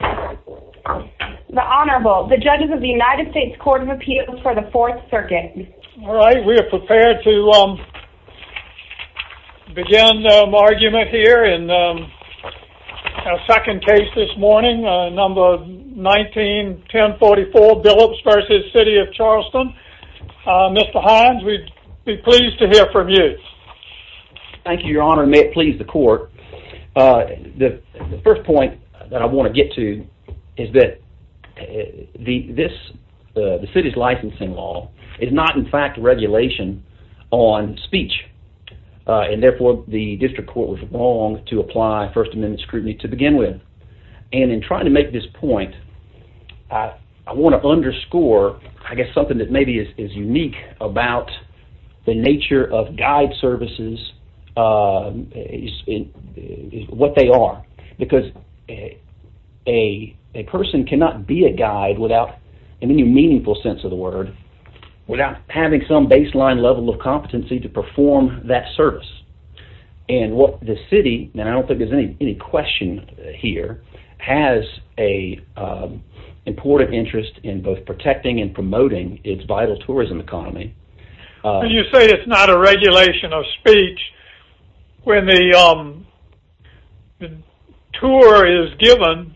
The Honorable, the judges of the United States Court of Appeals for the 4th Circuit Alright, we are prepared to begin our argument here in our second case this morning, number 19-1044 Billups v. City of Charleston Mr. Hines, we'd be pleased to hear from you Thank you Your Honor, and may it please the Court The first point that I want to get to is that the city's licensing law is not in fact regulation on speech and therefore the district court was wrong to apply First Amendment scrutiny to begin with what they are, because a person cannot be a guide without any meaningful sense of the word without having some baseline level of competency to perform that service and what the city, and I don't think there's any question here, has an important interest in both protecting and promoting its vital tourism economy You say it's not a regulation of speech when the tour is given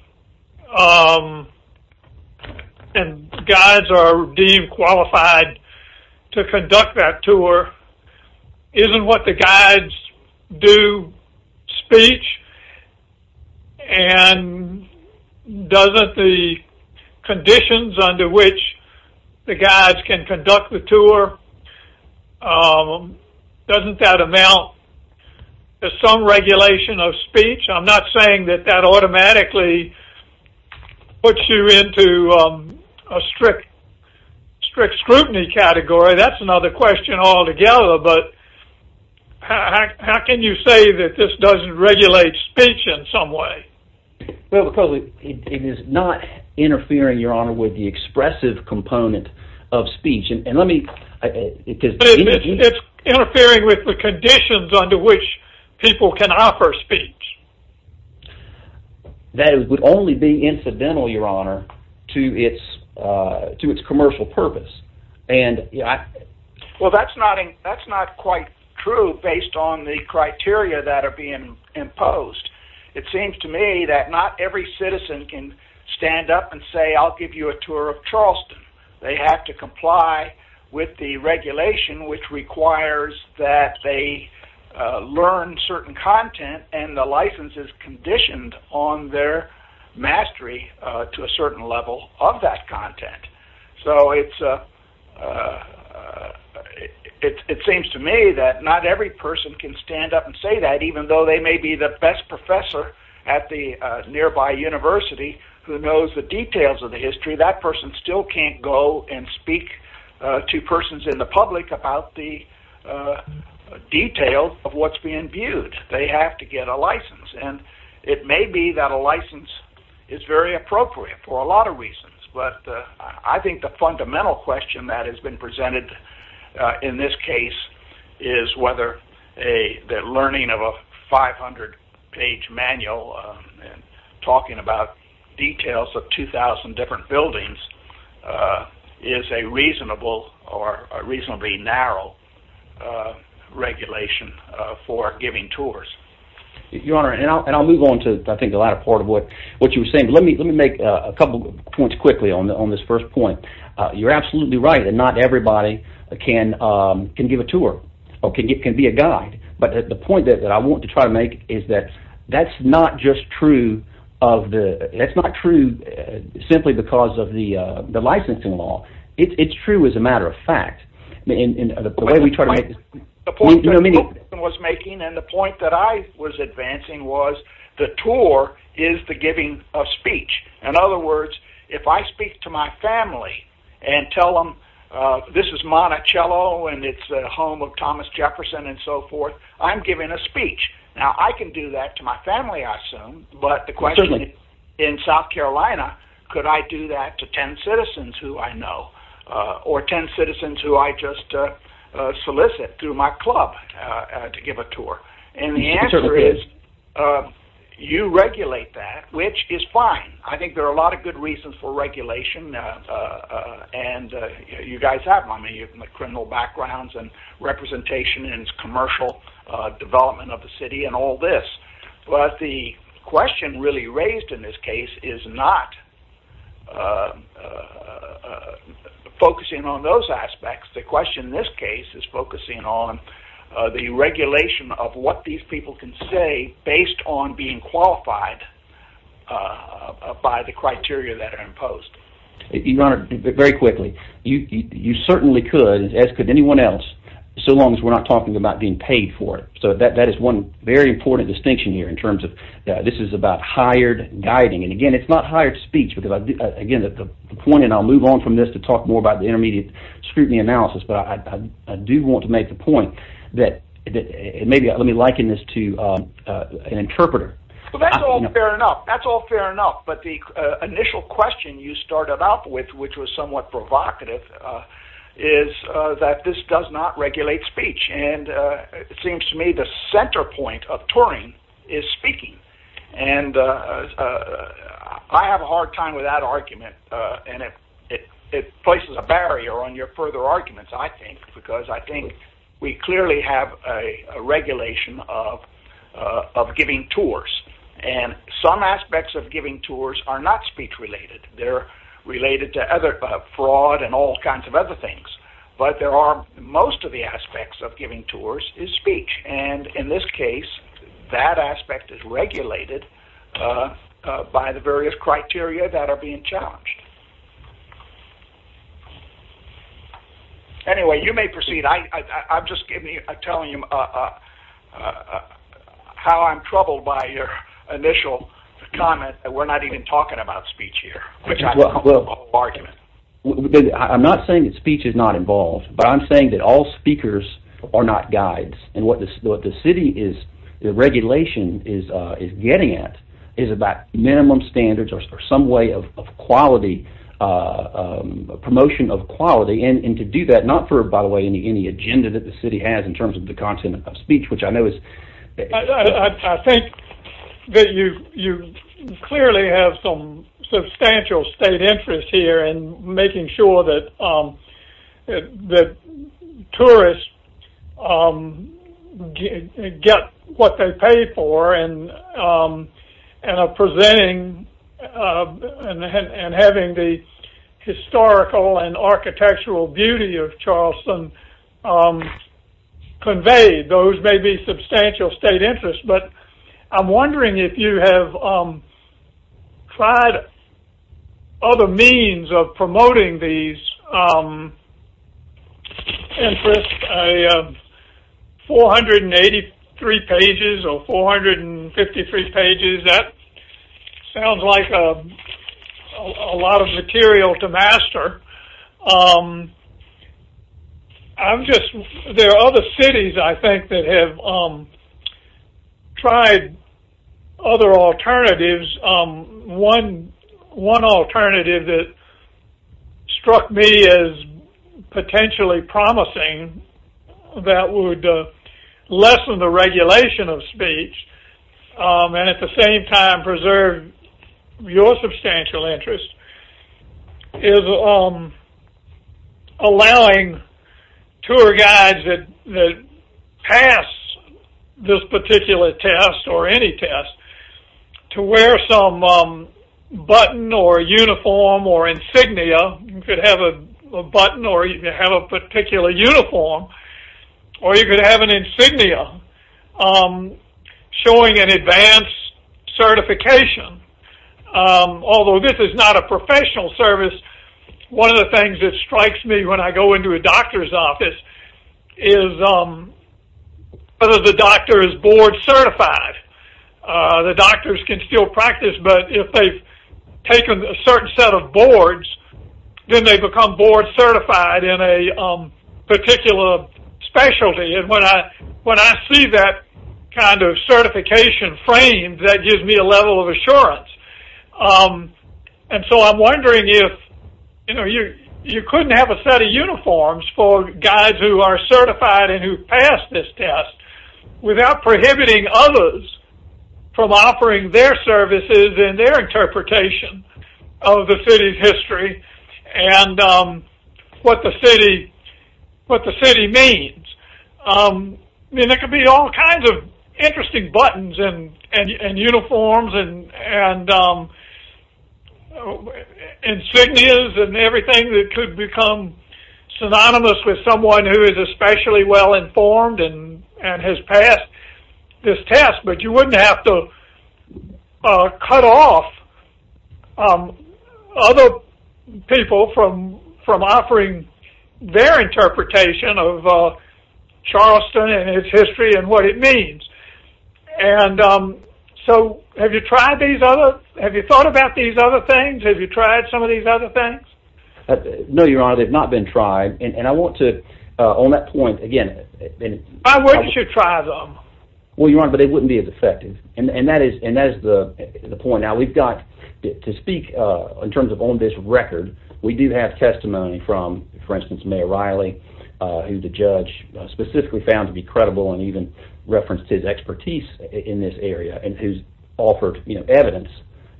and guides are deemed qualified to conduct that tour Isn't what the guides do speech? And doesn't the conditions under which the guides can conduct the tour doesn't that amount to some regulation of speech? I'm not saying that that automatically puts you into a strict scrutiny category that's another question altogether, but how can you say that this doesn't regulate speech in some way? Well because it is not interfering, Your Honor, with the expressive component of speech It's interfering with the conditions under which people can offer speech That would only be incidental, Your Honor, to its commercial purpose Well that's not quite true based on the criteria that are being imposed It seems to me that not every citizen can stand up and say I'll give you a tour of Charleston They have to comply with the regulation which requires that they learn certain content and the license is conditioned on their mastery to a certain level of that content So it seems to me that not every person can stand up and say that even though they may be the best professor at the nearby university who knows the details of the history that person still can't go and speak to persons in the public about the detail of what's being viewed They have to get a license and it may be that a license is very appropriate for a lot of reasons But I think the fundamental question that has been presented in this case is whether the learning of a 500 page manual talking about details of 2,000 different buildings is a reasonable or a reasonably narrow regulation for giving tours Your Honor, and I'll move on to I think the latter part of what you were saying Let me make a couple points quickly on this first point You're absolutely right that not everybody can give a tour or can be a guide But the point that I want to try to make is that that's not just true simply because of the licensing law It's true as a matter of fact The point that you was making and the point that I was advancing was the tour is the giving of speech In other words, if I speak to my family and tell them this is Monticello and it's the home of Thomas Jefferson and so forth I'm giving a speech Now I can do that to my family I assume But the question in South Carolina, could I do that to 10 citizens who I know Or 10 citizens who I just solicit through my club to give a tour And the answer is you regulate that which is fine I think there are a lot of good reasons for regulation And you guys have them, you have criminal backgrounds and representation in commercial development of the city and all this But the question really raised in this case is not focusing on those aspects The question in this case is focusing on the regulation of what these people can say based on being qualified by the criteria that are imposed Your honor, very quickly You certainly could as could anyone else so long as we're not talking about being paid for it So that is one very important distinction here in terms of this is about hired guiding And again it's not hired speech because again the point and I'll move on from this to talk more about the intermediate scrutiny analysis But I do want to make the point that maybe let me liken this to an interpreter Well that's all fair enough, that's all fair enough But the initial question you started out with which was somewhat provocative is that this does not regulate speech And it seems to me the center point of touring is speaking And I have a hard time with that argument and it places a barrier on your further arguments I think Because I think we clearly have a regulation of giving tours And some aspects of giving tours are not speech related They're related to other fraud and all kinds of other things But there are most of the aspects of giving tours is speech And in this case that aspect is regulated by the various criteria that are being challenged Anyway you may proceed, I'm just telling you how I'm troubled by your initial comment that we're not even talking about speech here I'm not saying that speech is not involved but I'm saying that all speakers are not guides And what the city is, the regulation is getting at is about minimum standards or some way of quality, promotion of quality And to do that, not for by the way any agenda that the city has in terms of the content of speech which I know is I think that you clearly have some substantial state interest here in making sure that tourists get what they pay for And are presenting and having the historical and architectural beauty of Charleston conveyed Those may be substantial state interest but I'm wondering if you have tried other means of promoting these interests 483 pages or 453 pages, that sounds like a lot of material to master There are other cities I think that have tried other alternatives One alternative that struck me as potentially promising that would lessen the regulation of speech And at the same time preserve your substantial interest is allowing tour guides that pass this particular test or any test To wear some button or uniform or insignia, you could have a button or you could have a particular uniform Or you could have an insignia showing an advanced certification Although this is not a professional service, one of the things that strikes me when I go into a doctor's office Is whether the doctor is board certified The doctors can still practice but if they've taken a certain set of boards Then they become board certified in a particular specialty And when I see that kind of certification framed, that gives me a level of assurance And so I'm wondering if you couldn't have a set of uniforms for guides who are certified and who've passed this test Without prohibiting others from offering their services and their interpretation of the city's history And what the city means I mean there could be all kinds of interesting buttons and uniforms and insignias and everything That could become synonymous with someone who is especially well informed and has passed this test But you wouldn't have to cut off other people from offering their interpretation of Charleston and its history and what it means And so have you tried these other things? Have you thought about these other things? Have you tried some of these other things? No your honor, they've not been tried And I want to, on that point again Why wouldn't you try them? Well your honor, but it wouldn't be as effective And that is the point Now we've got, to speak in terms of on this record We do have testimony from for instance Mayor Riley Who the judge specifically found to be credible and even referenced his expertise in this area And who's offered evidence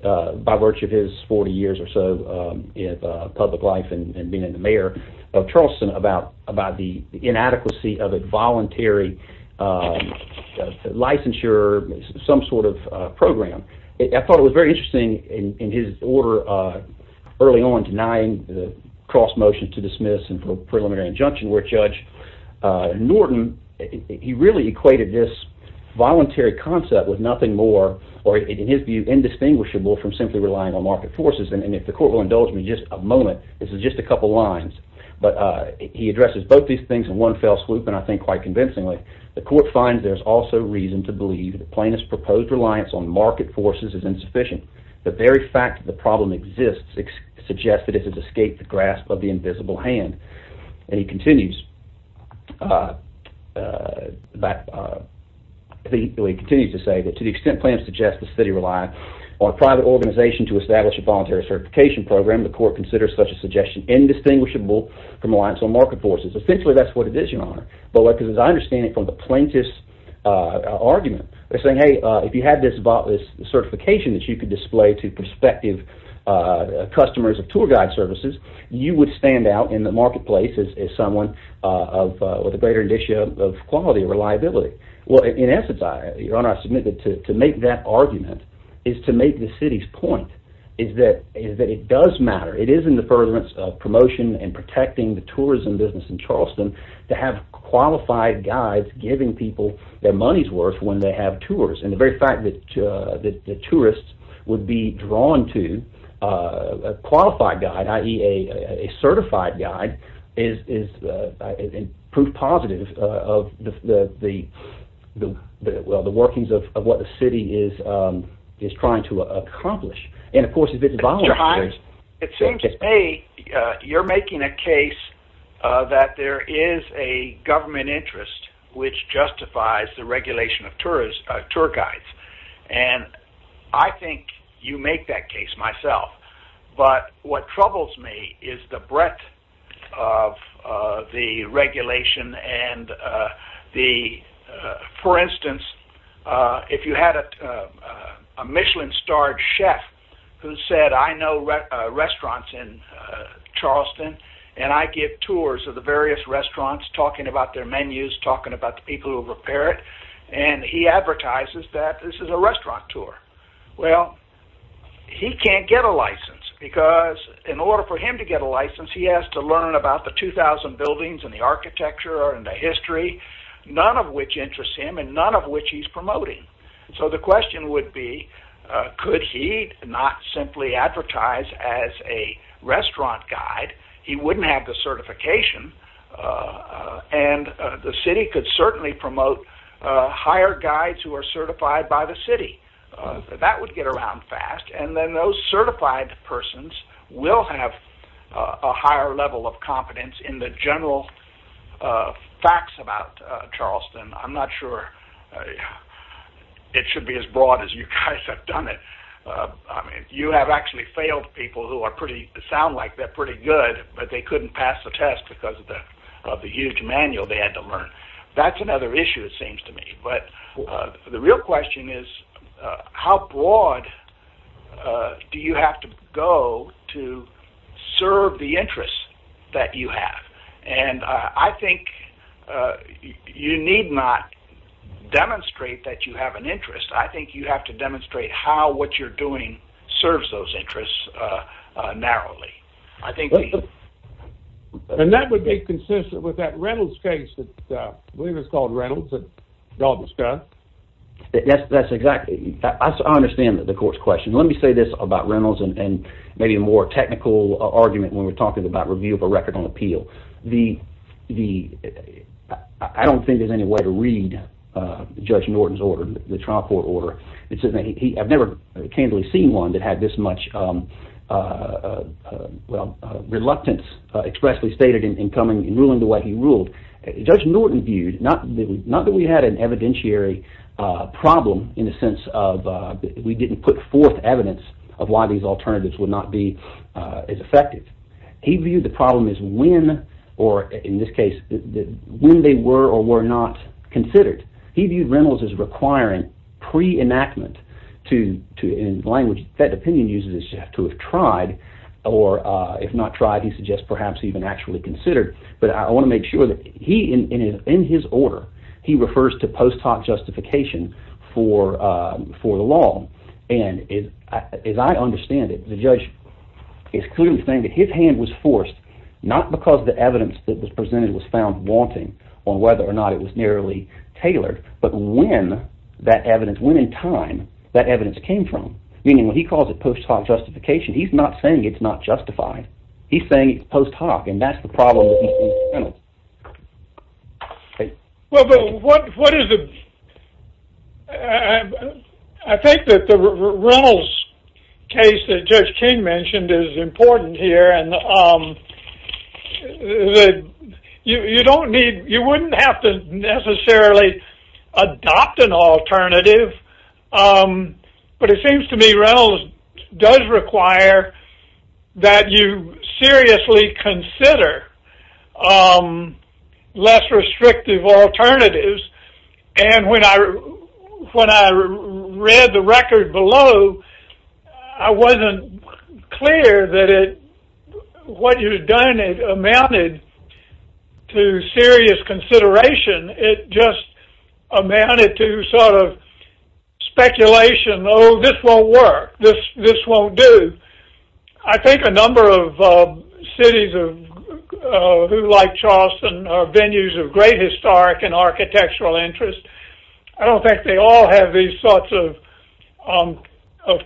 by virtue of his 40 years or so of public life and being the mayor of Charleston About the inadequacy of a voluntary licensure, some sort of program I thought it was very interesting in his order early on denying the cross motion to dismiss and preliminary injunction Where Judge Norton, he really equated this voluntary concept with nothing more Or in his view indistinguishable from simply relying on market forces And if the court will indulge me just a moment, this is just a couple lines But he addresses both these things in one fell swoop and I think quite convincingly The court finds there's also reason to believe the plaintiff's proposed reliance on market forces is insufficient The very fact that the problem exists suggests that it has escaped the grasp of the invisible hand And he continues to say that to the extent plaintiffs suggest the city rely on a private organization to establish a voluntary certification program The court considers such a suggestion indistinguishable from reliance on market forces Essentially that's what it is your honor But as I understand it from the plaintiff's argument They're saying hey if you had this certification that you could display to prospective customers of tour guide services You would stand out in the marketplace as someone with a greater indicia of quality and reliability Well in essence your honor I submit that to make that argument is to make the city's point Is that it does matter, it is in the furtherance of promotion and protecting the tourism business in Charleston To have qualified guides giving people their money's worth when they have tours And the very fact that tourists would be drawn to a qualified guide I.e. a certified guide is proof positive of the workings of what the city is trying to accomplish It seems to me you're making a case that there is a government interest which justifies the regulation of tour guides And I think you make that case myself But what troubles me is the breadth of the regulation For instance if you had a Michelin starred chef who said I know restaurants in Charleston And I give tours of the various restaurants talking about their menus Talking about the people who repair it And he advertises that this is a restaurant tour Well he can't get a license because in order for him to get a license He has to learn about the 2,000 buildings and the architecture and the history None of which interests him and none of which he's promoting So the question would be could he not simply advertise as a restaurant guide He wouldn't have the certification And the city could certainly promote higher guides who are certified by the city That would get around fast And then those certified persons will have a higher level of confidence in the general facts about Charleston I'm not sure it should be as broad as you guys have done it You have actually failed people who sound like they're pretty good But they couldn't pass the test because of the huge manual they had to learn That's another issue it seems to me But the real question is how broad do you have to go to serve the interests that you have And I think you need not demonstrate that you have an interest I think you have to demonstrate how what you're doing serves those interests narrowly And that would be consistent with that Reynolds case that I believe is called Reynolds that y'all discussed That's exactly – I understand the court's question Let me say this about Reynolds and maybe a more technical argument when we're talking about review of a record on appeal I don't think there's any way to read Judge Norton's order, the trial court order I've never candidly seen one that had this much reluctance expressly stated in ruling the way he ruled Judge Norton viewed – not that we had an evidentiary problem in the sense of we didn't put forth evidence of why these alternatives would not be as effective He viewed the problem as when, or in this case, when they were or were not considered He viewed Reynolds as requiring pre-enactment in language that opinion uses to have tried Or if not tried, he suggests perhaps even actually considered But I want to make sure that he, in his order, he refers to post hoc justification for the law And as I understand it, the judge is clearly saying that his hand was forced Not because the evidence that was presented was found wanting or whether or not it was nearly tailored But when that evidence, when in time that evidence came from Meaning when he calls it post hoc justification, he's not saying it's not justified He's saying it's post hoc and that's the problem with E.C. Reynolds Well, but what is the – I think that the Reynolds case that Judge King mentioned is important here And you don't need – you wouldn't have to necessarily adopt an alternative But it seems to me Reynolds does require that you seriously consider less restrictive alternatives And when I read the record below, I wasn't clear that it – what you've done amounted to serious consideration It just amounted to sort of speculation, oh, this won't work, this won't do I think a number of cities like Charleston are venues of great historic and architectural interest I don't think they all have these sorts of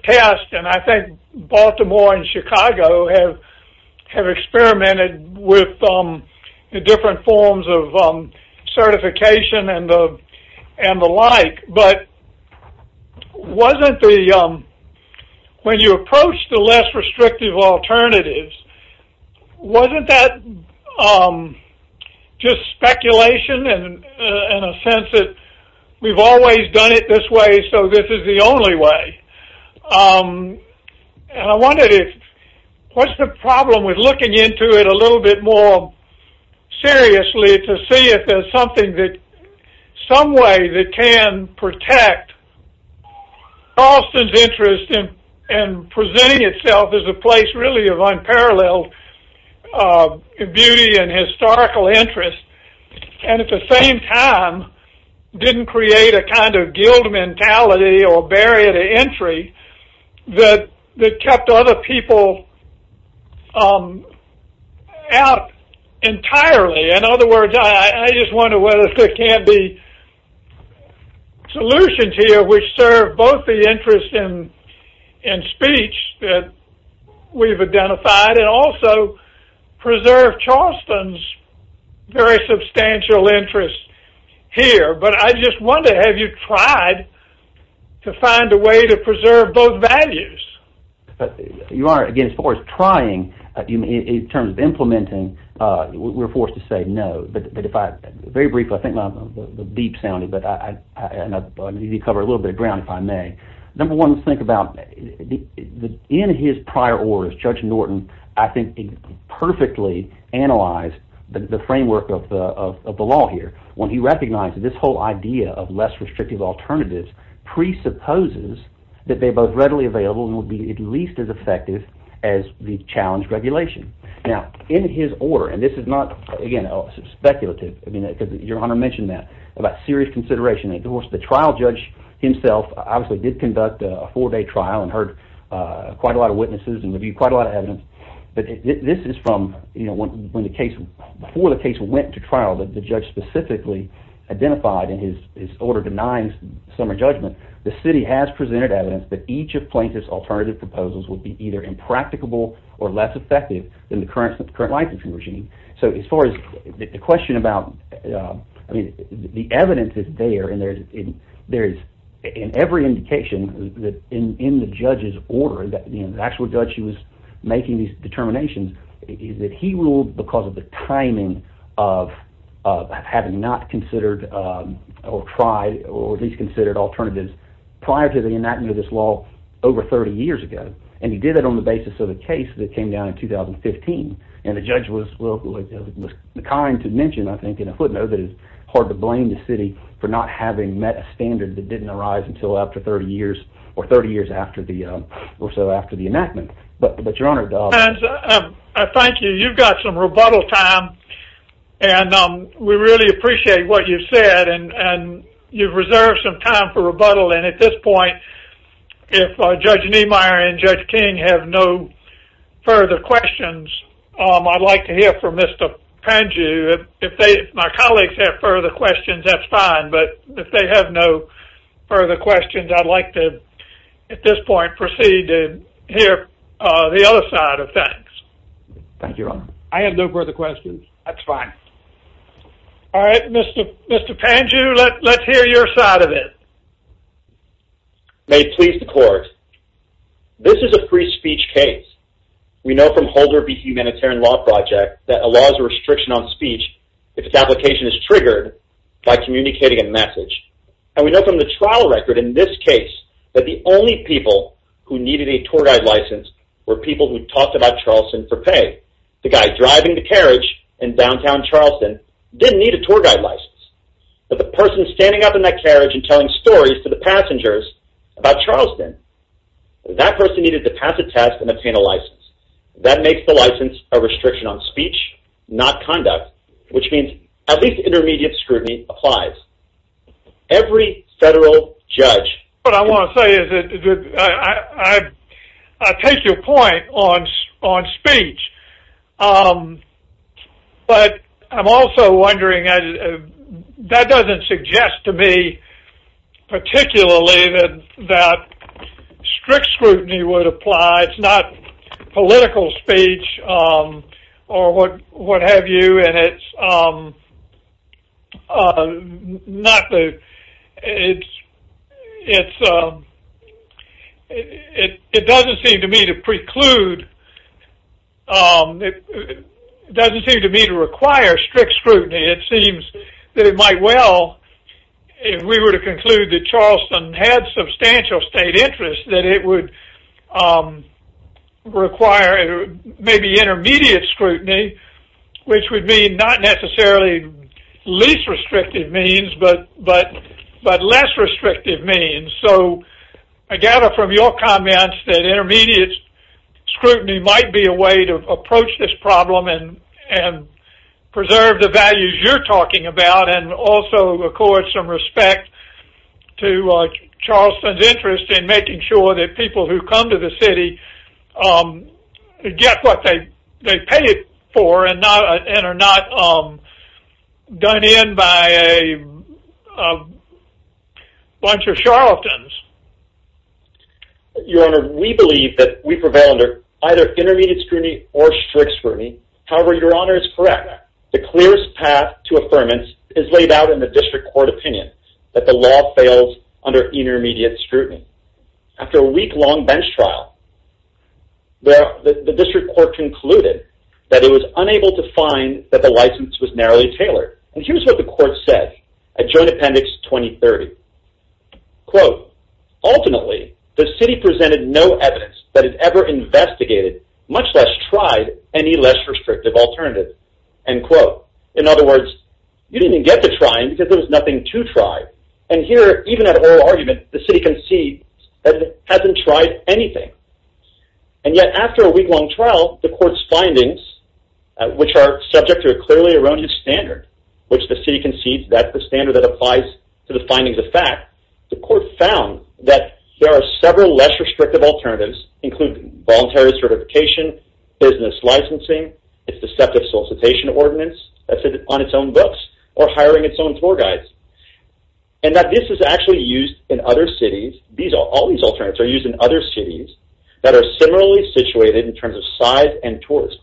tests And I think Baltimore and Chicago have experimented with different forms of certification and the like But wasn't the – when you approach the less restrictive alternatives Wasn't that just speculation and a sense that we've always done it this way so this is the only way And I wondered if – what's the problem with looking into it a little bit more seriously To see if there's something that – some way that can protect Charleston's interest in presenting itself As a place really of unparalleled beauty and historical interest And at the same time didn't create a kind of guild mentality or barrier to entry That kept other people out entirely In other words, I just wonder whether there can't be solutions here Which serve both the interest in speech that we've identified And also preserve Charleston's very substantial interest here But I just wonder, have you tried to find a way to preserve both values? You are, again, as far as trying, in terms of implementing, we're forced to say no But if I – very briefly, I think my beep sounded, but I need to cover a little bit of ground if I may Number one, think about – in his prior orders, Judge Norton, I think, perfectly analyzed the framework of the law here When he recognized that this whole idea of less restrictive alternatives presupposes that they're both readily available And would be at least as effective as the challenge regulation. Now, in his order, and this is not, again, speculative because Your Honor mentioned that, about serious consideration Of course, the trial judge himself obviously did conduct a four-day trial and heard quite a lot of witnesses and reviewed quite a lot of evidence But this is from when the case – before the case went to trial that the judge specifically identified in his order denying summary judgment The city has presented evidence that each of Plaintiff's alternative proposals would be either impracticable or less effective than the current licensing regime So as far as the question about – I mean the evidence is there, and there is in every indication in the judge's order The actual judge who was making these determinations is that he ruled because of the timing of having not considered or tried or at least considered alternatives Prior to the enactment of this law over 30 years ago, and he did that on the basis of a case that came down in 2015 And the judge was kind to mention, I think, in a footnote that it's hard to blame the city for not having met a standard that didn't arise until after 30 years Or 30 years or so after the enactment, but Your Honor – Thank you, you've got some rebuttal time, and we really appreciate what you've said, and you've reserved some time for rebuttal And at this point, if Judge Niemeyer and Judge King have no further questions, I'd like to hear from Mr. Panju If my colleagues have further questions, that's fine, but if they have no further questions, I'd like to, at this point, proceed to hear the other side of things Thank you, Your Honor I have no further questions That's fine All right, Mr. Panju, let's hear your side of it May it please the court, this is a free speech case We know from Holder v. Humanitarian Law Project that a law is a restriction on speech if its application is triggered by communicating a message And we know from the trial record in this case that the only people who needed a tour guide license were people who talked about Charleston for pay The guy driving the carriage in downtown Charleston didn't need a tour guide license But the person standing up in that carriage and telling stories to the passengers about Charleston, that person needed to pass a test and obtain a license That makes the license a restriction on speech, not conduct, which means at least intermediate scrutiny applies Every federal judge What I want to say is that I take your point on speech But I'm also wondering, that doesn't suggest to me particularly that strict scrutiny would apply It's not political speech or what have you It doesn't seem to me to preclude, it doesn't seem to me to require strict scrutiny It seems that it might well, if we were to conclude that Charleston had substantial state interest, that it would require maybe intermediate scrutiny Which would mean not necessarily least restrictive means, but less restrictive means So I gather from your comments that intermediate scrutiny might be a way to approach this problem and preserve the values you're talking about And also accord some respect to Charleston's interest in making sure that people who come to the city get what they pay for And are not done in by a bunch of Charlestons Your honor, we believe that we prevail under either intermediate scrutiny or strict scrutiny However, your honor is correct The clearest path to affirmance is laid out in the district court opinion That the law fails under intermediate scrutiny After a week long bench trial, the district court concluded that it was unable to find that the license was narrowly tailored And here's what the court said at joint appendix 2030 In other words, you didn't get to try because there was nothing to try And here, even at oral argument, the city concedes that it hasn't tried anything And yet after a week long trial, the court's findings, which are subject to a clearly erroneous standard Which the city concedes that the standard that applies to the findings of fact The court found that there are several less restrictive alternatives Including voluntary certification, business licensing, its deceptive solicitation ordinance on its own books, or hiring its own floor guides And that this is actually used in other cities All these alternatives are used in other cities that are similarly situated in terms of size and tourism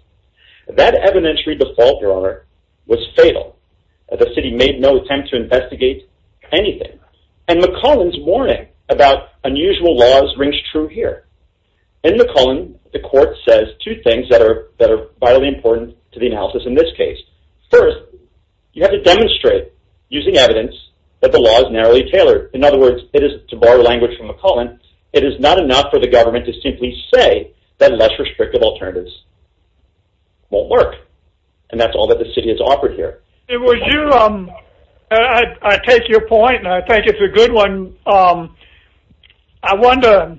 That evidentiary default, your honor, was fatal The city made no attempt to investigate anything And McCullen's warning about unusual laws rings true here In McCullen, the court says two things that are vitally important to the analysis in this case First, you have to demonstrate, using evidence, that the law is narrowly tailored In other words, to borrow language from McCullen, it is not enough for the government to simply say That less restrictive alternatives won't work And that's all that the city has offered here I take your point, and I think it's a good one I wonder,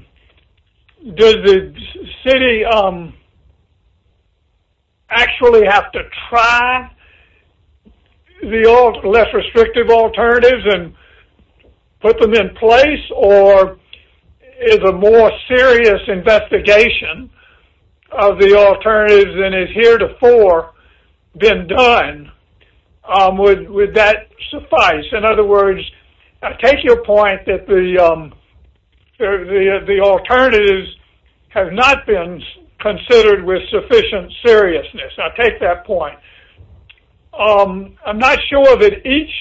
does the city actually have to try the less restrictive alternatives and put them in place Or is a more serious investigation of the alternatives than is heretofore been done Would that suffice? In other words, I take your point that the alternatives have not been considered with sufficient seriousness I take that point I'm not sure that each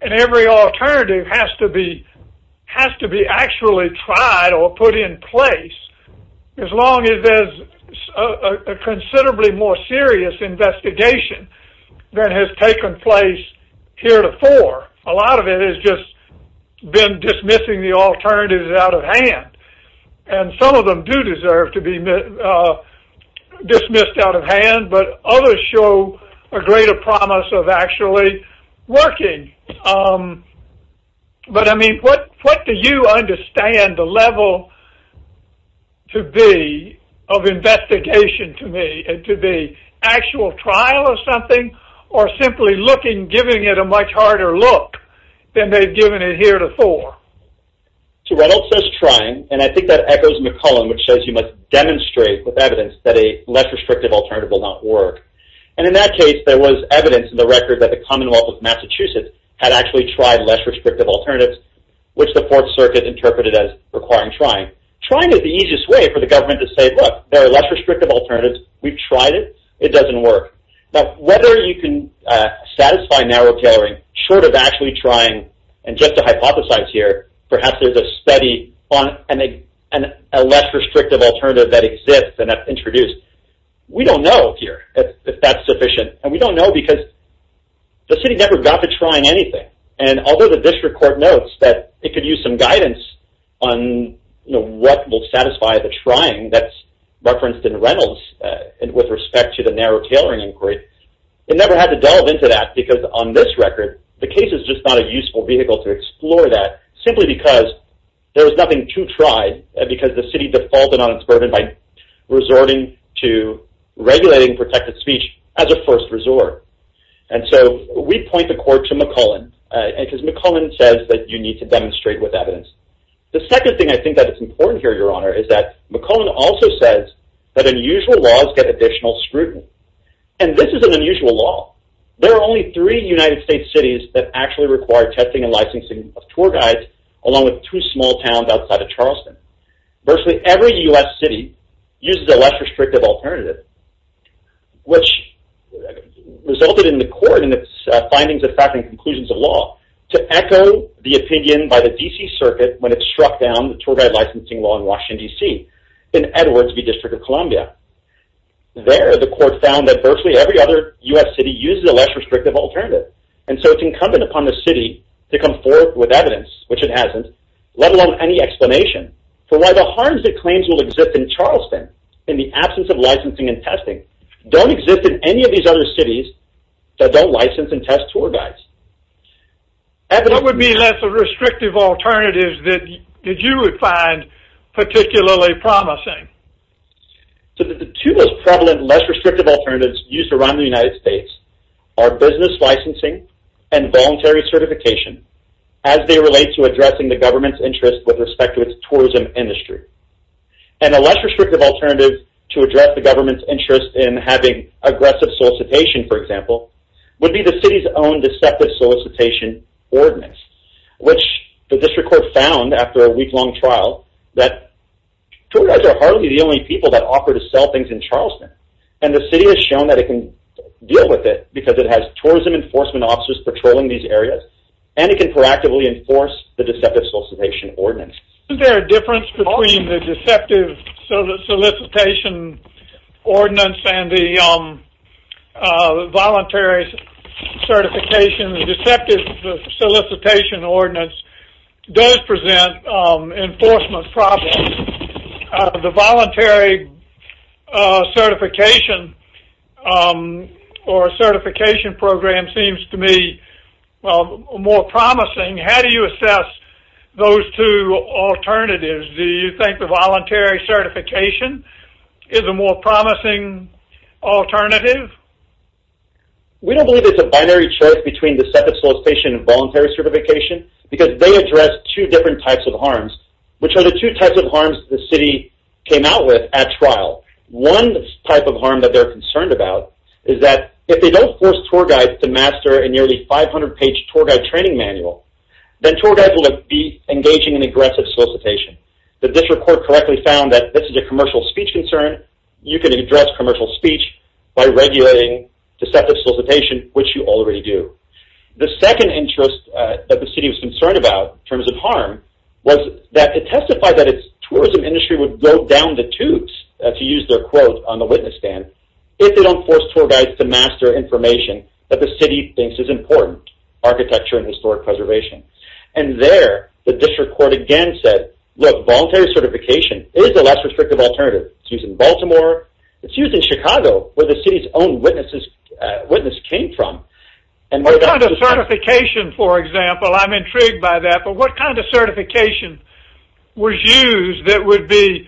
and every alternative has to be actually tried or put in place As long as there's a considerably more serious investigation than has taken place heretofore A lot of it has just been dismissing the alternatives out of hand And some of them do deserve to be dismissed out of hand But others show a greater promise of actually working But I mean, what do you understand the level to be of investigation to be Actual trial of something, or simply looking, giving it a much harder look than they've given it heretofore So Reynolds says trying, and I think that echoes McCullen Which says you must demonstrate with evidence that a less restrictive alternative will not work And in that case, there was evidence in the record that the Commonwealth of Massachusetts Had actually tried less restrictive alternatives, which the Fourth Circuit interpreted as requiring trying Trying is the easiest way for the government to say, look, there are less restrictive alternatives We've tried it, it doesn't work Now, whether you can satisfy narrow tailoring short of actually trying And just to hypothesize here, perhaps there's a study on a less restrictive alternative that exists and is introduced We don't know here if that's sufficient And we don't know because the city never got to trying anything And although the district court notes that it could use some guidance on what will satisfy the trying That's referenced in Reynolds with respect to the narrow tailoring inquiry It never had to delve into that because on this record The case is just not a useful vehicle to explore that Simply because there was nothing to try And because the city defaulted on its burden by resorting to regulating protected speech as a first resort And so we point the court to McCullen Because McCullen says that you need to demonstrate with evidence The second thing I think that is important here, Your Honor, is that McCullen also says that unusual laws get additional scrutiny And this is an unusual law There are only three United States cities that actually require testing and licensing of tour guides Along with two small towns outside of Charleston Virtually every U.S. city uses a less restrictive alternative Which resulted in the court in its findings of fact and conclusions of law To echo the opinion by the D.C. circuit when it struck down the tour guide licensing law in Washington, D.C. In Edwards v. District of Columbia There the court found that virtually every other U.S. city uses a less restrictive alternative And so it's incumbent upon the city to come forth with evidence, which it hasn't Let alone any explanation For why the harms it claims will exist in Charleston In the absence of licensing and testing Don't exist in any of these other cities that don't license and test tour guides What would be less restrictive alternatives that you would find particularly promising? The two most prevalent less restrictive alternatives used around the United States Are business licensing and voluntary certification As they relate to addressing the government's interest with respect to its tourism industry And a less restrictive alternative to address the government's interest in having aggressive solicitation, for example Would be the city's own deceptive solicitation ordinance Which the district court found after a week-long trial That tour guides are hardly the only people that offer to sell things in Charleston And the city has shown that it can deal with it Because it has tourism enforcement officers patrolling these areas And it can proactively enforce the deceptive solicitation ordinance Isn't there a difference between the deceptive solicitation ordinance and the voluntary certification? The deceptive solicitation ordinance does present enforcement problems The voluntary certification or certification program seems to me more promising How do you assess those two alternatives? Do you think the voluntary certification is a more promising alternative? We don't believe it's a binary choice between the deceptive solicitation and voluntary certification Because they address two different types of harms Which are the two types of harms the city came out with at trial One type of harm that they're concerned about is that If they don't force tour guides to master a nearly 500-page tour guide training manual Then tour guides will be engaging in aggressive solicitation The district court correctly found that this is a commercial speech concern You can address commercial speech by regulating deceptive solicitation, which you already do The second interest that the city was concerned about in terms of harm Was that it testified that its tourism industry would go down the tubes To use their quote on the witness stand If they don't force tour guides to master information that the city thinks is important Architecture and historic preservation And there the district court again said Look, voluntary certification is a less restrictive alternative It's used in Baltimore, it's used in Chicago Where the city's own witness came from What kind of certification, for example, I'm intrigued by that But what kind of certification was used that would be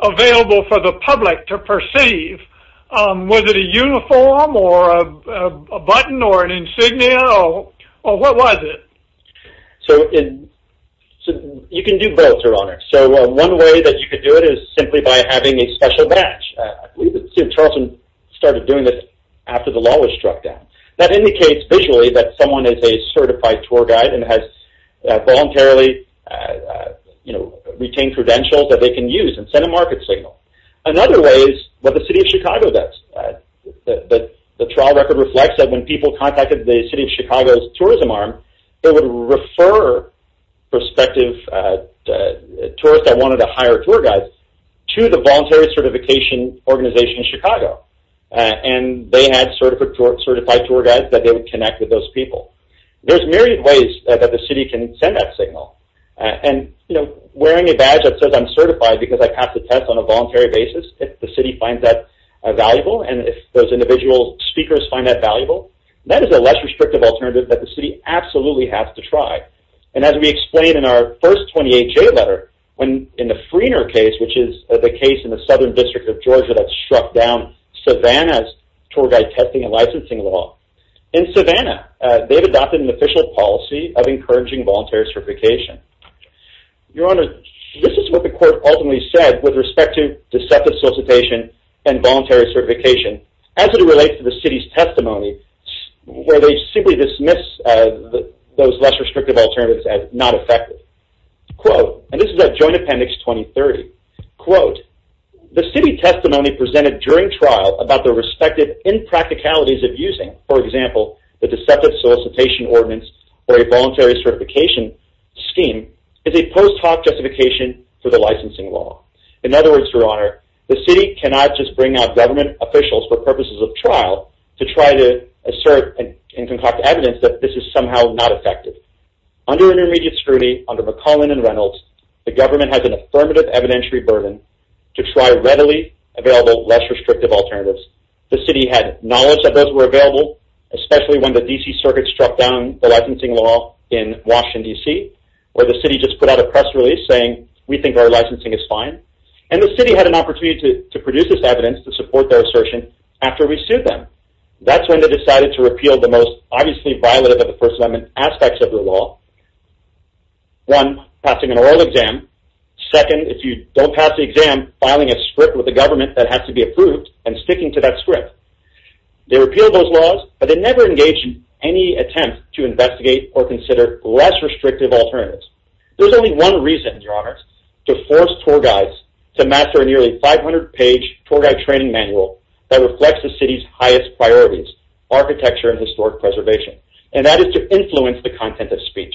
available for the public to perceive? Was it a uniform or a button or an insignia? Or what was it? So you can do both, your honor So one way that you could do it is simply by having a special match I believe the city of Charleston started doing this after the law was struck down That indicates visually that someone is a certified tour guide And has voluntarily retained credentials that they can use and send a market signal Another way is what the city of Chicago does The trial record reflects that when people contacted the city of Chicago's tourism arm They would refer prospective tourists that wanted to hire tour guides To the voluntary certification organization in Chicago And they had certified tour guides that they would connect with those people There's myriad ways that the city can send that signal And wearing a badge that says I'm certified because I passed a test on a voluntary basis If the city finds that valuable And if those individual speakers find that valuable That is a less restrictive alternative that the city absolutely has to try And as we explained in our first 28J letter In the Freener case, which is the case in the southern district of Georgia That struck down Savannah's tour guide testing and licensing law In Savannah, they've adopted an official policy of encouraging voluntary certification Your honor, this is what the court ultimately said With respect to deceptive solicitation and voluntary certification As it relates to the city's testimony Where they simply dismiss those less restrictive alternatives as not effective Quote, and this is at joint appendix 2030 Quote, the city testimony presented during trial About the respective impracticalities of using For example, the deceptive solicitation ordinance Or a voluntary certification scheme Is a post hoc justification for the licensing law In other words, your honor, the city cannot just bring out government officials For purposes of trial to try to assert and concoct evidence That this is somehow not effective Under intermediate scrutiny, under McClellan and Reynolds The government has an affirmative evidentiary burden To try readily available less restrictive alternatives The city had knowledge that those were available Especially when the D.C. circuit struck down the licensing law in Washington, D.C. Where the city just put out a press release saying We think our licensing is fine And the city had an opportunity to produce this evidence To support their assertion after we sued them That's when they decided to repeal the most Obviously violative of the first amendment aspects of the law One, passing an oral exam Second, if you don't pass the exam Filing a script with the government that has to be approved And sticking to that script They repealed those laws But they never engaged in any attempt to investigate Or consider less restrictive alternatives There's only one reason, your honor To force tour guides to master a nearly 500 page tour guide training manual That reflects the city's highest priorities Architecture and historic preservation And that is to influence the content of speech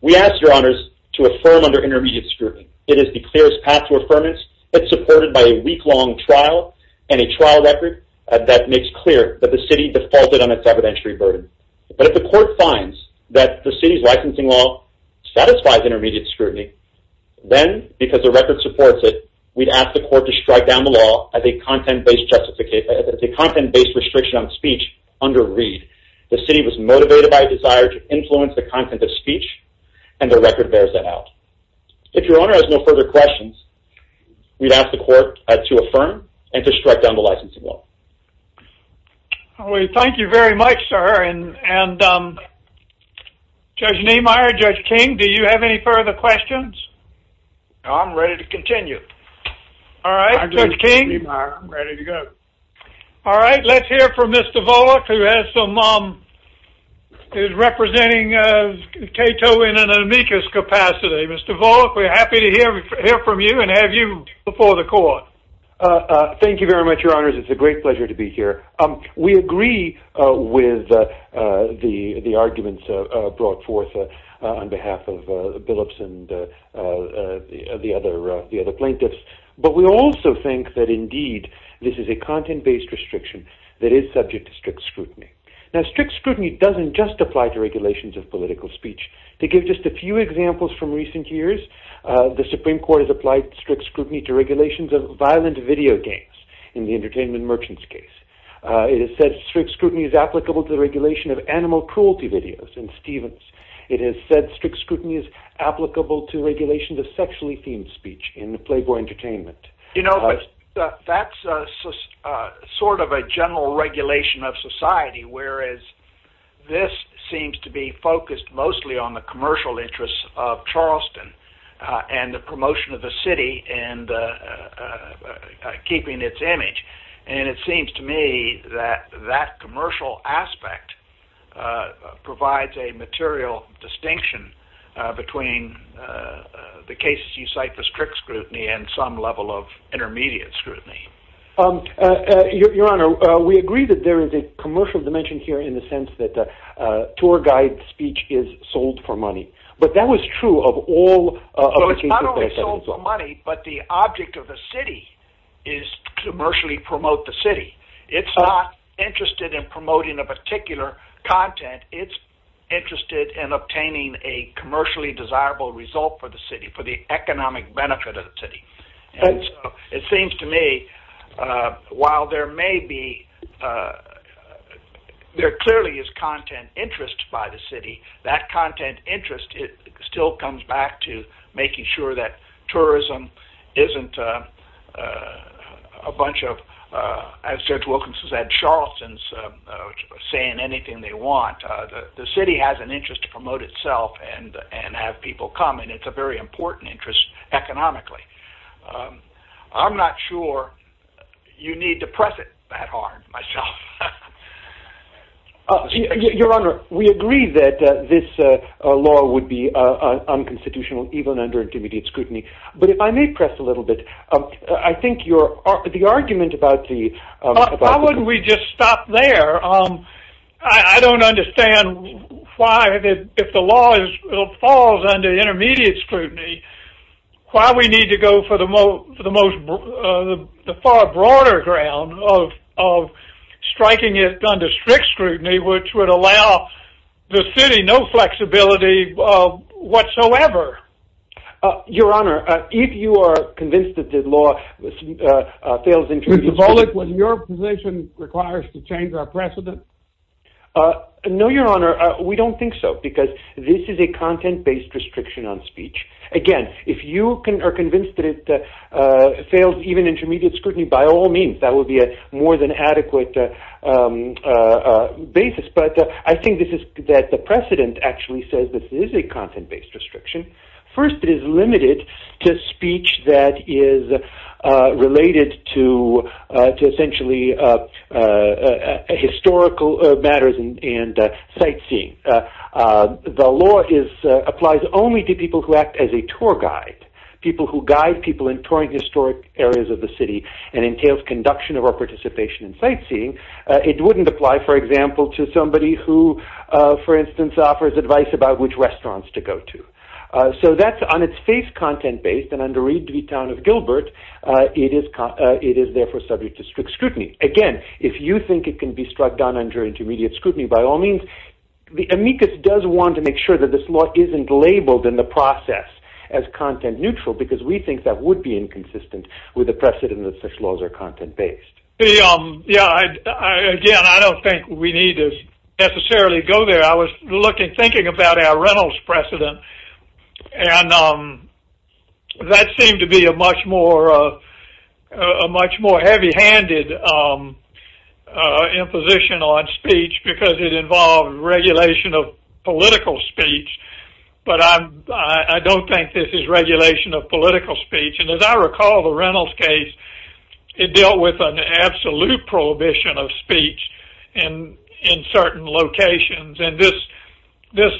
We ask, your honors, to affirm under intermediate scrutiny It is the clearest path to affirmance It's supported by a week-long trial And a trial record that makes clear That the city defaulted on its evidentiary burden But if the court finds that the city's licensing law Satisfies intermediate scrutiny Then, because the record supports it We'd ask the court to strike down the law As a content-based restriction on speech under read The city was motivated by a desire to influence the content of speech And the record bears that out If your honor has no further questions We'd ask the court to affirm And to strike down the licensing law Thank you very much, sir Judge Nehmeyer, Judge King Do you have any further questions? I'm ready to continue All right, Judge King I'm ready to go All right, let's hear from Mr. Volokh Who is representing Cato in an amicus capacity Mr. Volokh, we're happy to hear from you And have you before the court Thank you very much, your honors It's a great pleasure to be here We agree with the arguments brought forth On behalf of Billups and the other plaintiffs But we also think that indeed This is a content-based restriction That is subject to strict scrutiny Now, strict scrutiny doesn't just apply To regulations of political speech To give just a few examples from recent years The Supreme Court has applied strict scrutiny To regulations of violent video games In the Entertainment Merchants case It has said strict scrutiny is applicable To the regulation of animal cruelty videos It has said strict scrutiny is applicable To regulations of sexually themed speech In Playboy Entertainment You know, that's sort of a general regulation of society Whereas this seems to be focused mostly On the commercial interests of Charleston And the promotion of the city And keeping its image And it seems to me that that commercial aspect Provides a material distinction Between the cases you cite for strict scrutiny And some level of intermediate scrutiny Your honor, we agree that there is A commercial dimension here in the sense that Tour guide speech is sold for money But that was true of all So it's not only sold for money But the object of the city Is to commercially promote the city It's not interested in promoting A particular content It's interested in obtaining A commercially desirable result for the city For the economic benefit of the city And so it seems to me While there may be There clearly is content interest by the city That content interest Still comes back to making sure that Tourism isn't a bunch of As Judge Wilkinson said Charleston is saying anything they want The city has an interest to promote itself And have people come And it's a very important interest economically I'm not sure You need to press it that hard myself Your honor, we agree that This law would be unconstitutional Even under intermediate scrutiny But if I may press a little bit The argument about the Why wouldn't we just stop there I don't understand Why if the law falls under intermediate scrutiny Why we need to go for the most The far broader ground Of striking it under strict scrutiny Which would allow The city no flexibility whatsoever Your honor If you are convinced that the law Fails intermediate scrutiny Was your position Requires to change our precedent No your honor We don't think so Because this is a content based restriction on speech Again, if you are convinced that it Fails even intermediate scrutiny By all means That would be a more than adequate Basis But I think this is That the precedent actually says This is a content based restriction First it is limited To speech that is Related to To essentially Historical matters And sightseeing The law applies only to people Who act as a tour guide People who guide people In touring historic areas of the city And entails conduction Or participation in sightseeing It wouldn't apply for example To somebody who For instance offers advice About which restaurants to go to So that's on its face content based And under Reed v. Town of Gilbert It is therefore subject to strict scrutiny Again, if you think it can be struck down Under intermediate scrutiny By all means Amicus does want to make sure That this law isn't labeled in the process As content neutral Because we think that would be inconsistent With the precedent That such laws are content based Yeah, again I don't think We need to necessarily go there I was thinking about our Reynolds precedent And that seemed to be A much more heavy handed Imposition on speech Because it involved regulation Of political speech But I don't think this is regulation Of political speech And as I recall the Reynolds case It dealt with an absolute prohibition Of speech In certain locations And this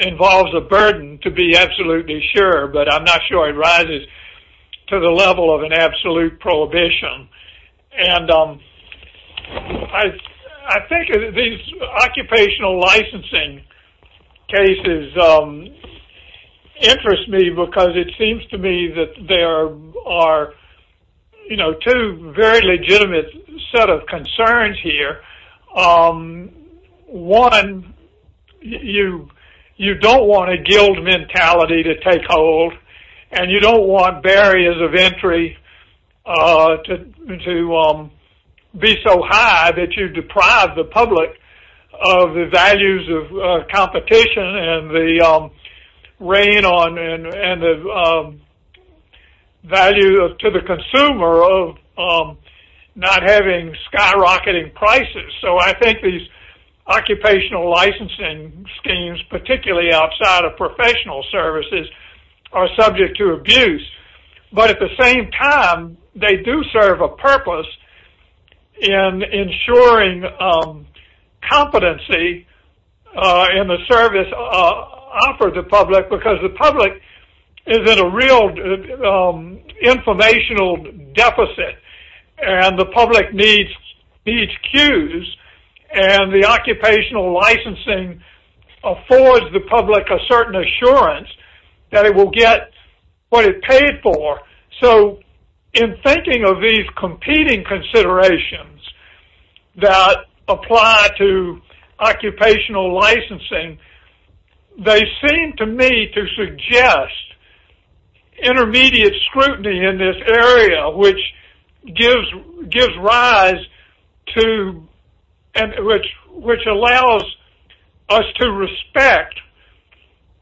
involves a burden To be absolutely sure But I'm not sure it rises To the level of an absolute prohibition And I think these Occupational licensing cases Interest me Because it seems to me That there are Two very legitimate Set of concerns here One, you don't want A guild mentality to take hold And you don't want barriers of entry To be so high That you deprive the public Of the values of competition And the value to the consumer Of not having skyrocketing prices So I think these Occupational licensing schemes Particularly outside of professional services Are subject to abuse But at the same time They do serve a purpose In ensuring competency In the service offered to the public Because the public Is in a real informational deficit And the public needs cues And the occupational licensing Affords the public a certain assurance That it will get what it paid for So in thinking of these competing considerations That apply to occupational licensing They seem to me to suggest Intermediate scrutiny in this area Which gives rise to Which allows us to respect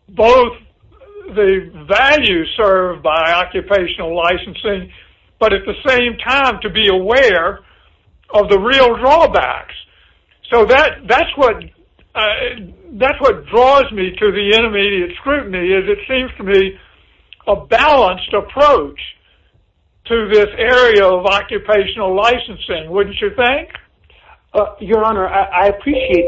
Both the values served by occupational licensing But at the same time to be aware Of the real drawbacks So that's what draws me To the intermediate scrutiny Is it seems to me A balanced approach To this area of occupational licensing Wouldn't you think? Your honor, I appreciate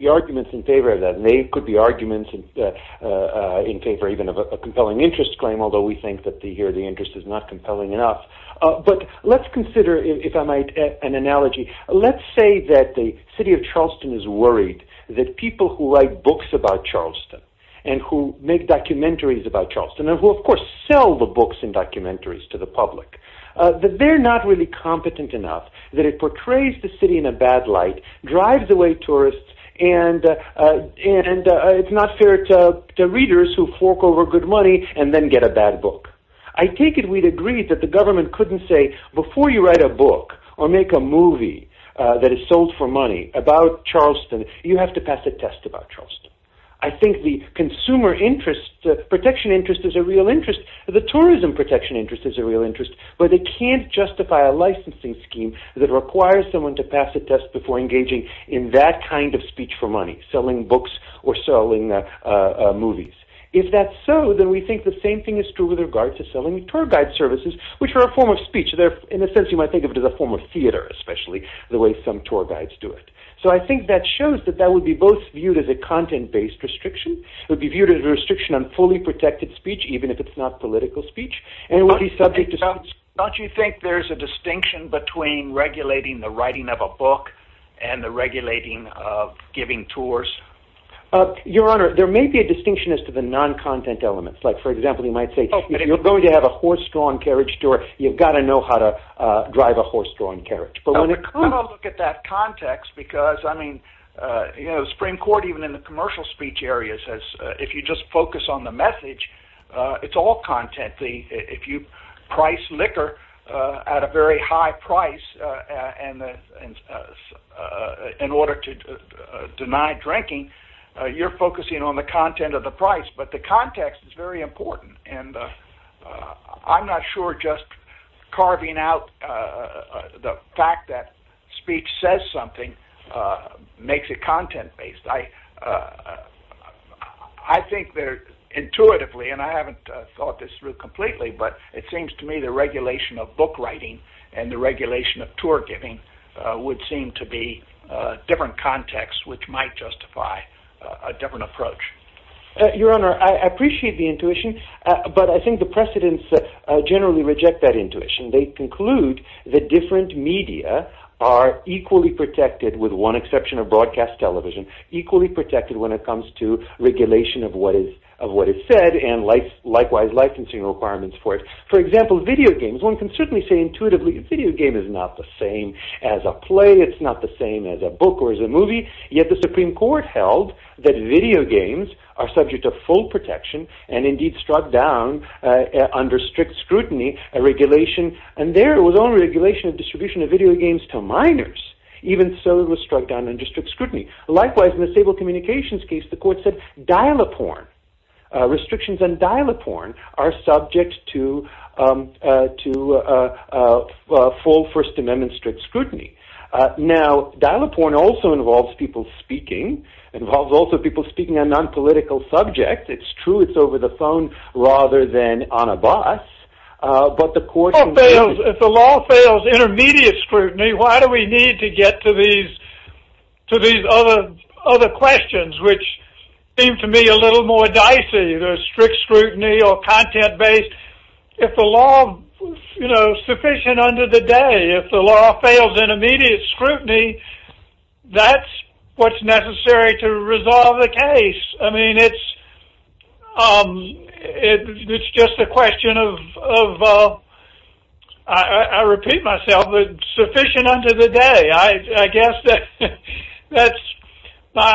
The arguments in favor of that And they could be arguments In favor even of a compelling interest claim Although we think that Here the interest is not compelling enough But let's consider If I might, an analogy Let's say that the city of Charleston is worried That people who write books about Charleston And who make documentaries about Charleston And who of course sell the books And documentaries to the public That they're not really competent enough That it portrays the city in a bad light Drives away tourists And it's not fair to readers Who fork over good money And then get a bad book I take it we'd agree That the government couldn't say Before you write a book Or make a movie That is sold for money About Charleston You have to pass a test about Charleston I think the consumer interest The protection interest Is a real interest The tourism protection interest Is a real interest But it can't justify a licensing scheme That requires someone to pass a test Before engaging in that kind of speech for money Selling books or selling movies If that's so Then we think the same thing is true With regard to selling tour guide services Which are a form of speech In a sense you might think of it as a form of theater Especially the way some tour guides do it So I think that shows That that would be both viewed As a content based restriction It would be viewed as a restriction On fully protected speech Even if it's not political speech And it would be subject to speech Don't you think there's a distinction Between regulating the writing of a book And the regulating of giving tours Your honor There may be a distinction As to the non-content elements Like for example you might say If you're going to have a horse-drawn carriage tour You've got to know how to Drive a horse-drawn carriage I'm going to look at that context Because I mean You know the Supreme Court Even in the commercial speech areas Says if you just focus on the message It's all content If you price liquor At a very high price In order to deny drinking You're focusing on the content of the price But the context is very important I'm not sure just carving out The fact that speech says something Makes it content based I think there intuitively And I haven't thought this through completely But it seems to me The regulation of book writing And the regulation of tour giving Would seem to be different contexts Which might justify a different approach Your honor I appreciate the intuition But I think the precedents Generally reject that intuition They conclude that different media Are equally protected With one exception of broadcast television Equally protected when it comes to Regulation of what is said And likewise licensing requirements for it For example video games One can certainly say intuitively Video game is not the same as a play It's not the same as a book or as a movie Yet the Supreme Court held That video games are subject to full protection And indeed struck down Under strict scrutiny A regulation And there was only a regulation Of distribution of video games to minors Even so it was struck down Under strict scrutiny Likewise in the disabled communications case The court said dial-a-porn Restrictions on dial-a-porn Are subject to Full First Amendment strict scrutiny Now dial-a-porn also involves people speaking Involves also people speaking On non-political subjects It's true it's over the phone Rather than on a bus But the court If the law fails intermediate scrutiny Why do we need to get to these To these other questions Which seem to me a little more dicey The strict scrutiny or content based If the law, you know, sufficient under the day If the law fails intermediate scrutiny That's what's necessary to resolve the case I mean it's It's just a question of I repeat myself It's sufficient under the day I guess that That's my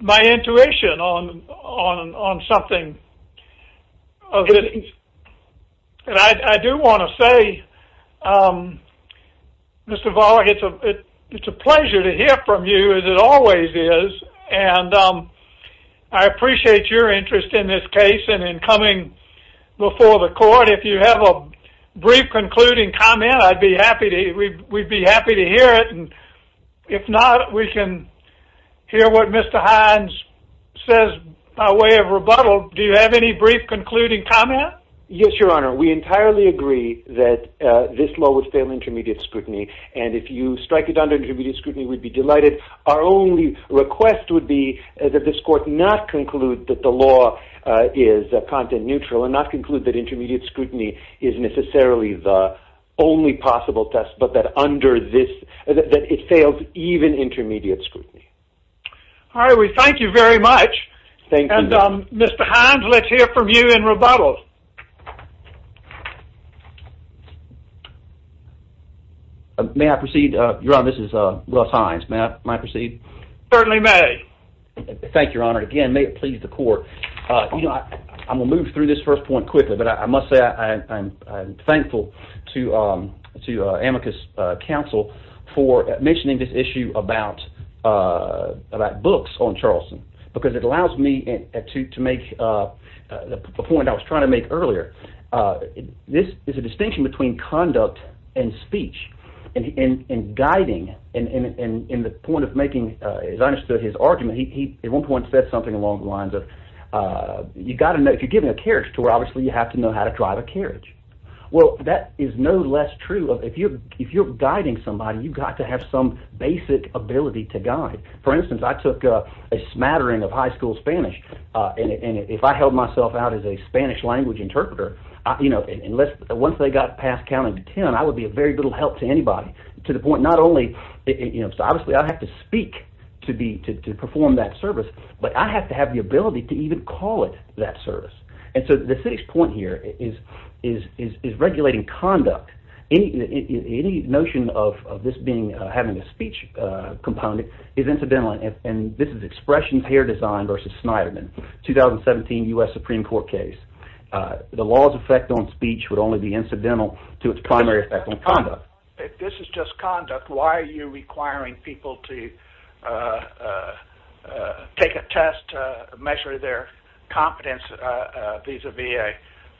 My intuition on something And I do want to say Mr. Volokh It's a pleasure to hear from you As it always is And I appreciate your interest in this case And in coming before the court If you have a brief concluding comment I'd be happy to We'd be happy to hear it If not we can Hear what Mr. Hines Says by way of rebuttal Do you have any brief concluding comment? Yes your honor We entirely agree that This law would fail intermediate scrutiny And if you strike it under intermediate scrutiny We'd be delighted Our only request would be That this court not conclude that the law Is content neutral And not conclude that intermediate scrutiny Is necessarily the only possible test But that under this That it fails even intermediate scrutiny All right we thank you very much Thank you And Mr. Hines let's hear from you in rebuttal May I proceed Your honor this is Russ Hines May I proceed Certainly may Thank you your honor Again may it please the court I'm going to move through this first point quickly But I must say I'm thankful To Amicus Council For mentioning this issue about About books on Charleston Because it allows me to make The point I was trying to make earlier This is a distinction between conduct and speech And guiding And the point of making As I understood his argument He at one point said something along the lines of You've got to know If you're giving a carriage tour Obviously you have to know how to drive a carriage Well that is no less true If you're guiding somebody You've got to have some basic ability to guide For instance I took a smattering Of high school Spanish And if I held myself out As a Spanish language interpreter Once they got past counting to ten I would be of very little help to anybody To the point not only Obviously I have to speak To perform that service But I have to have the ability To even call it that service And so the city's point here Is regulating conduct Any notion of this being Having a speech component Is incidental And this is Expressions Hair Design Versus Snyderman 2017 U.S. Supreme Court case The law's effect on speech Would only be incidental To its primary effect on conduct If this is just conduct Why are you requiring people To take a test Measure their competence Vis-a-vis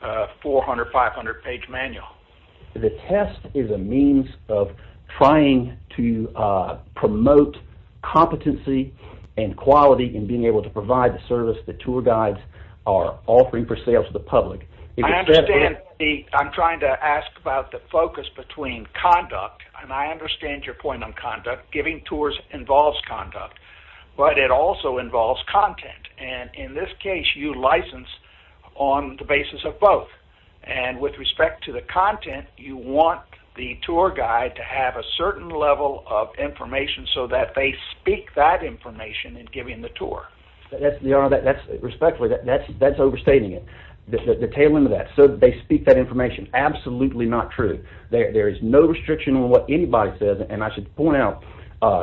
a 400, 500 page manual The test is a means Of trying to promote Competency and quality In being able to provide the service The tour guides are offering For sale to the public I understand I'm trying to ask about The focus between conduct And I understand your point on conduct Giving tours involves conduct But it also involves content And in this case you license On the basis of both And with respect to the content You want the tour guide To have a certain level of information So that they speak that information In giving the tour Respectfully That's overstating it The tail end of that So that they speak that information Absolutely not true There is no restriction On what anybody says And I should point out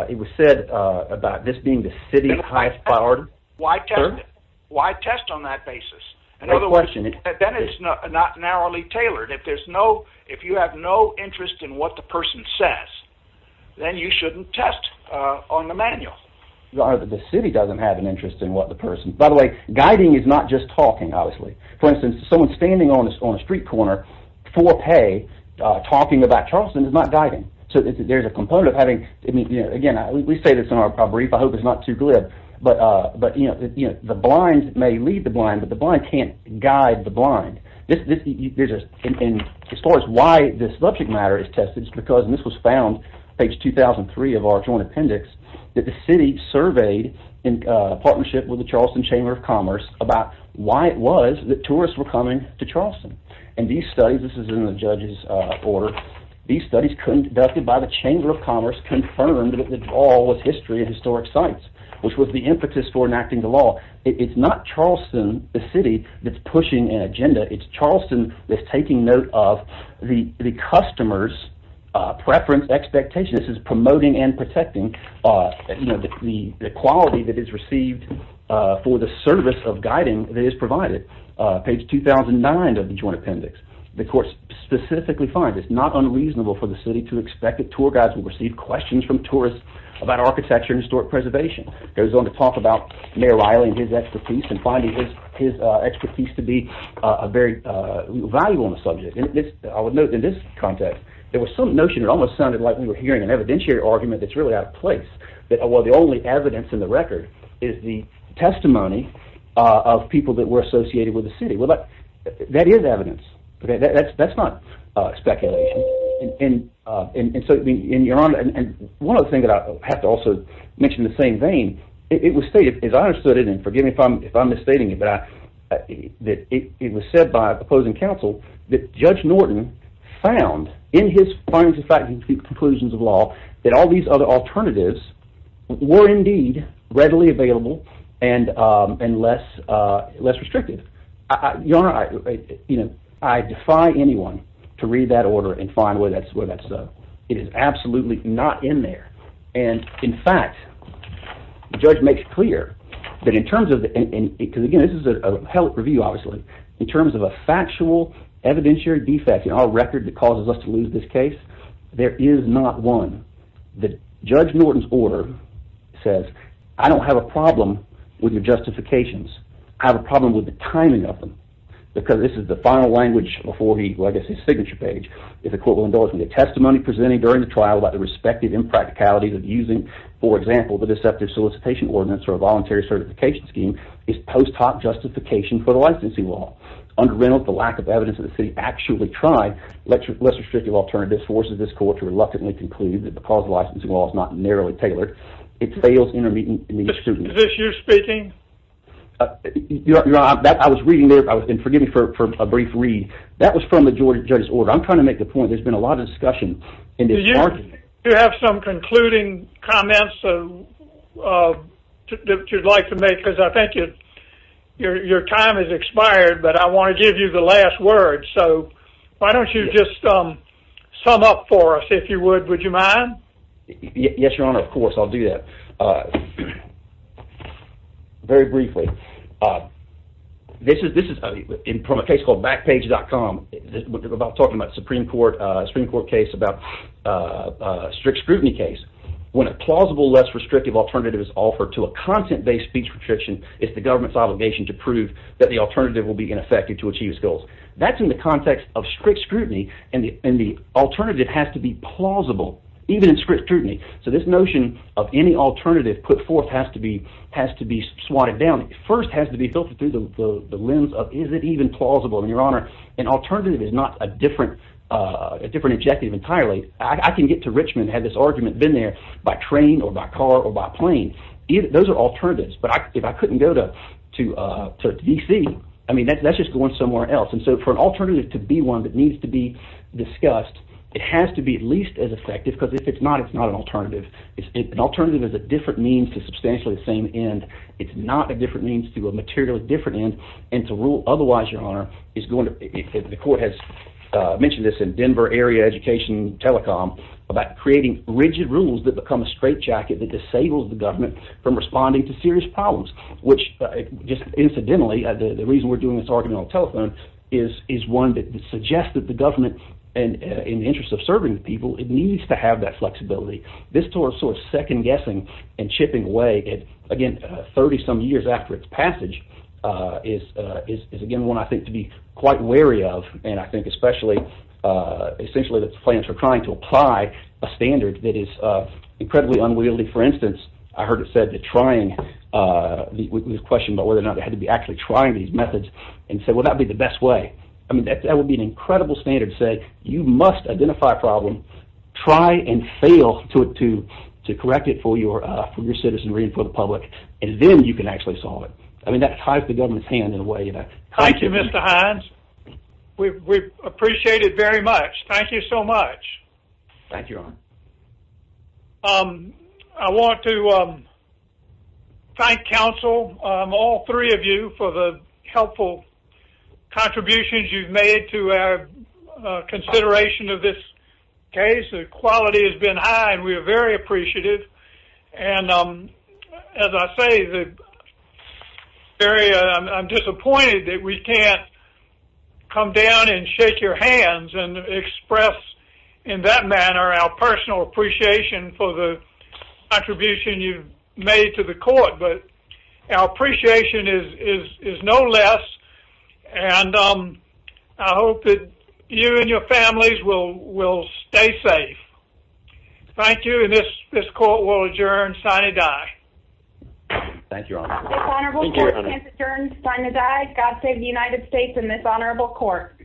It was said about this being The city's highest priority Why test it? Why test on that basis? In other words Then it's not narrowly tailored If there's no If you have no interest In what the person says Then you shouldn't test On the manual The city doesn't have an interest In what the person By the way Guiding is not just talking obviously For instance Someone standing on a street corner For pay Talking about Charleston Is not guiding So there's a component Of having Again We say this in our brief I hope it's not too glib But the blind May lead the blind But the blind can't guide the blind As far as why This subject matter is tested It's because And this was found Page 2003 Of our joint appendix That the city surveyed In partnership With the Charleston Chamber of Commerce About why it was That tourists were coming To Charleston And these studies This is in the judge's order These studies conducted By the Chamber of Commerce Confirmed that it all Was history And historic sites Which was the impetus For enacting the law It's not Charleston The city That's pushing an agenda It's Charleston That's taking note of The customer's Preference Expectation This is promoting And protecting You know The quality That is received For the service Of guiding That is provided Page 2009 Of the joint appendix The court Specifically finds It's not unreasonable For the city To expect That tour guides Will receive questions From tourists About architecture And historic preservation Goes on to talk About Mayor Riley And his expertise And finding his Expertise to be Very valuable On the subject I would note In this context There was some notion That almost sounded Like we were hearing An evidentiary argument That's really out of place That well The only evidence In the record Is the testimony Of people That were associated With the city Well that That is evidence That's not Speculation And so In your honor And one other thing That I have to also Mention in the same vein It was stated As I understood it And forgive me If I'm misstating it But it was said By opposing counsel That Judge Norton Found In his findings In fact In his conclusions Of law That all these Other alternatives Were indeed Readily available And less Less restrictive Your honor You know I defy anyone To read that order And find where That's Where that's It is absolutely Not in there And in fact The judge Makes clear That in terms of Because again This is a Review obviously In terms of a Factual Evidentiary Defect In our record That causes us To lose this case There is not one That Judge Norton's order Says I don't have a problem With your justifications I have a problem With the timing of them Because this is The final language Before he Well I guess his signature page If the court will endorse me The testimony presented During the trial About the respective Impracticalities of using For example The deceptive solicitation ordinance Or a voluntary certification scheme Is post hoc justification For the licensing law Under Reynolds The lack of evidence That the city actually tried Less restrictive alternative Forces this court To reluctantly conclude That the cause Of the licensing law Is not narrowly tailored It fails Intermediate scrutiny Is this you speaking? Your honor I was reading there And forgive me For a brief read That was from The jury's order I'm trying to make a point There's been a lot Of discussion In this argument Do you have some Concluding comments That you'd like to make Because I think Your time has expired But I want to give you The last word So why don't you Just sum up for us If you would Would you mind? No No Your honor Yes your honor Of course I'll do that Very briefly This is From a case Called backpage.com Talking about The supreme court Supreme court case About a strict scrutiny case When a plausible Less restrictive alternative Is offered To a content based Speech restriction It's the government's That the alternative Will be ineffective To achieve its goals That's in the context Of strict scrutiny And the alternative Has to be plausible Even if The alternative Has to be Even in strict scrutiny So this notion Of any alternative Put forth Has to be Swatted down First has to be Filtered through The lens of Is it even plausible And your honor An alternative Is not a different Objective entirely I can get to Richmond And have this argument Been there By train Or by car Or by plane Those are alternatives But if I couldn't go To D.C. I mean that's just Going somewhere else And so for an alternative To be one that needs to be Discussed It has to be At least as effective Because if it's not It's not an alternative An alternative Is a different means To substantially The same end It's not a different means To a material Different end And to rule Otherwise your honor Is going to The court has Mentioned this In Denver area Education telecom About creating Rigid rules That become A straitjacket That disables The government From responding To serious problems Which just Incidentally The reason we're Doing this argument On telephone Is one that Suggests that the government In the interest Of serving the people It needs to have That flexibility This sort of Second guessing And chipping away At again 30 some years After it's passage Is again One I think To be quite wary of And I think Especially Essentially That the plans Are trying to apply A standard That is Incredibly unwieldy For instance I heard it said That trying The question About whether or not You have to be Actually trying These methods And say Well that would be The best way That would be An incredible standard To say You must identify A problem Try and fail To correct it For your citizenry And for the public And then you can Actually solve it I mean that Ties the government's Hand in a way Thank you Mr. Hines We appreciate it Very much Thank you so much Thank you I want To thank Council All three Of you For the helpful Contributions You've made To our Consideration Of this Case The quality Has been high And we are very appreciative And As I say The Area I'm disappointed That we can't Come down And shake Your hands And express In that manner Our personal Appreciation For the Contribution You've made To the court But Our Appreciation Is no Less And I hope That you and Your families Will Stay safe Thank you And this Court will Adjourn Signed Adai Thank you Adjourn Signed Adai God save the United States And this Honorable Court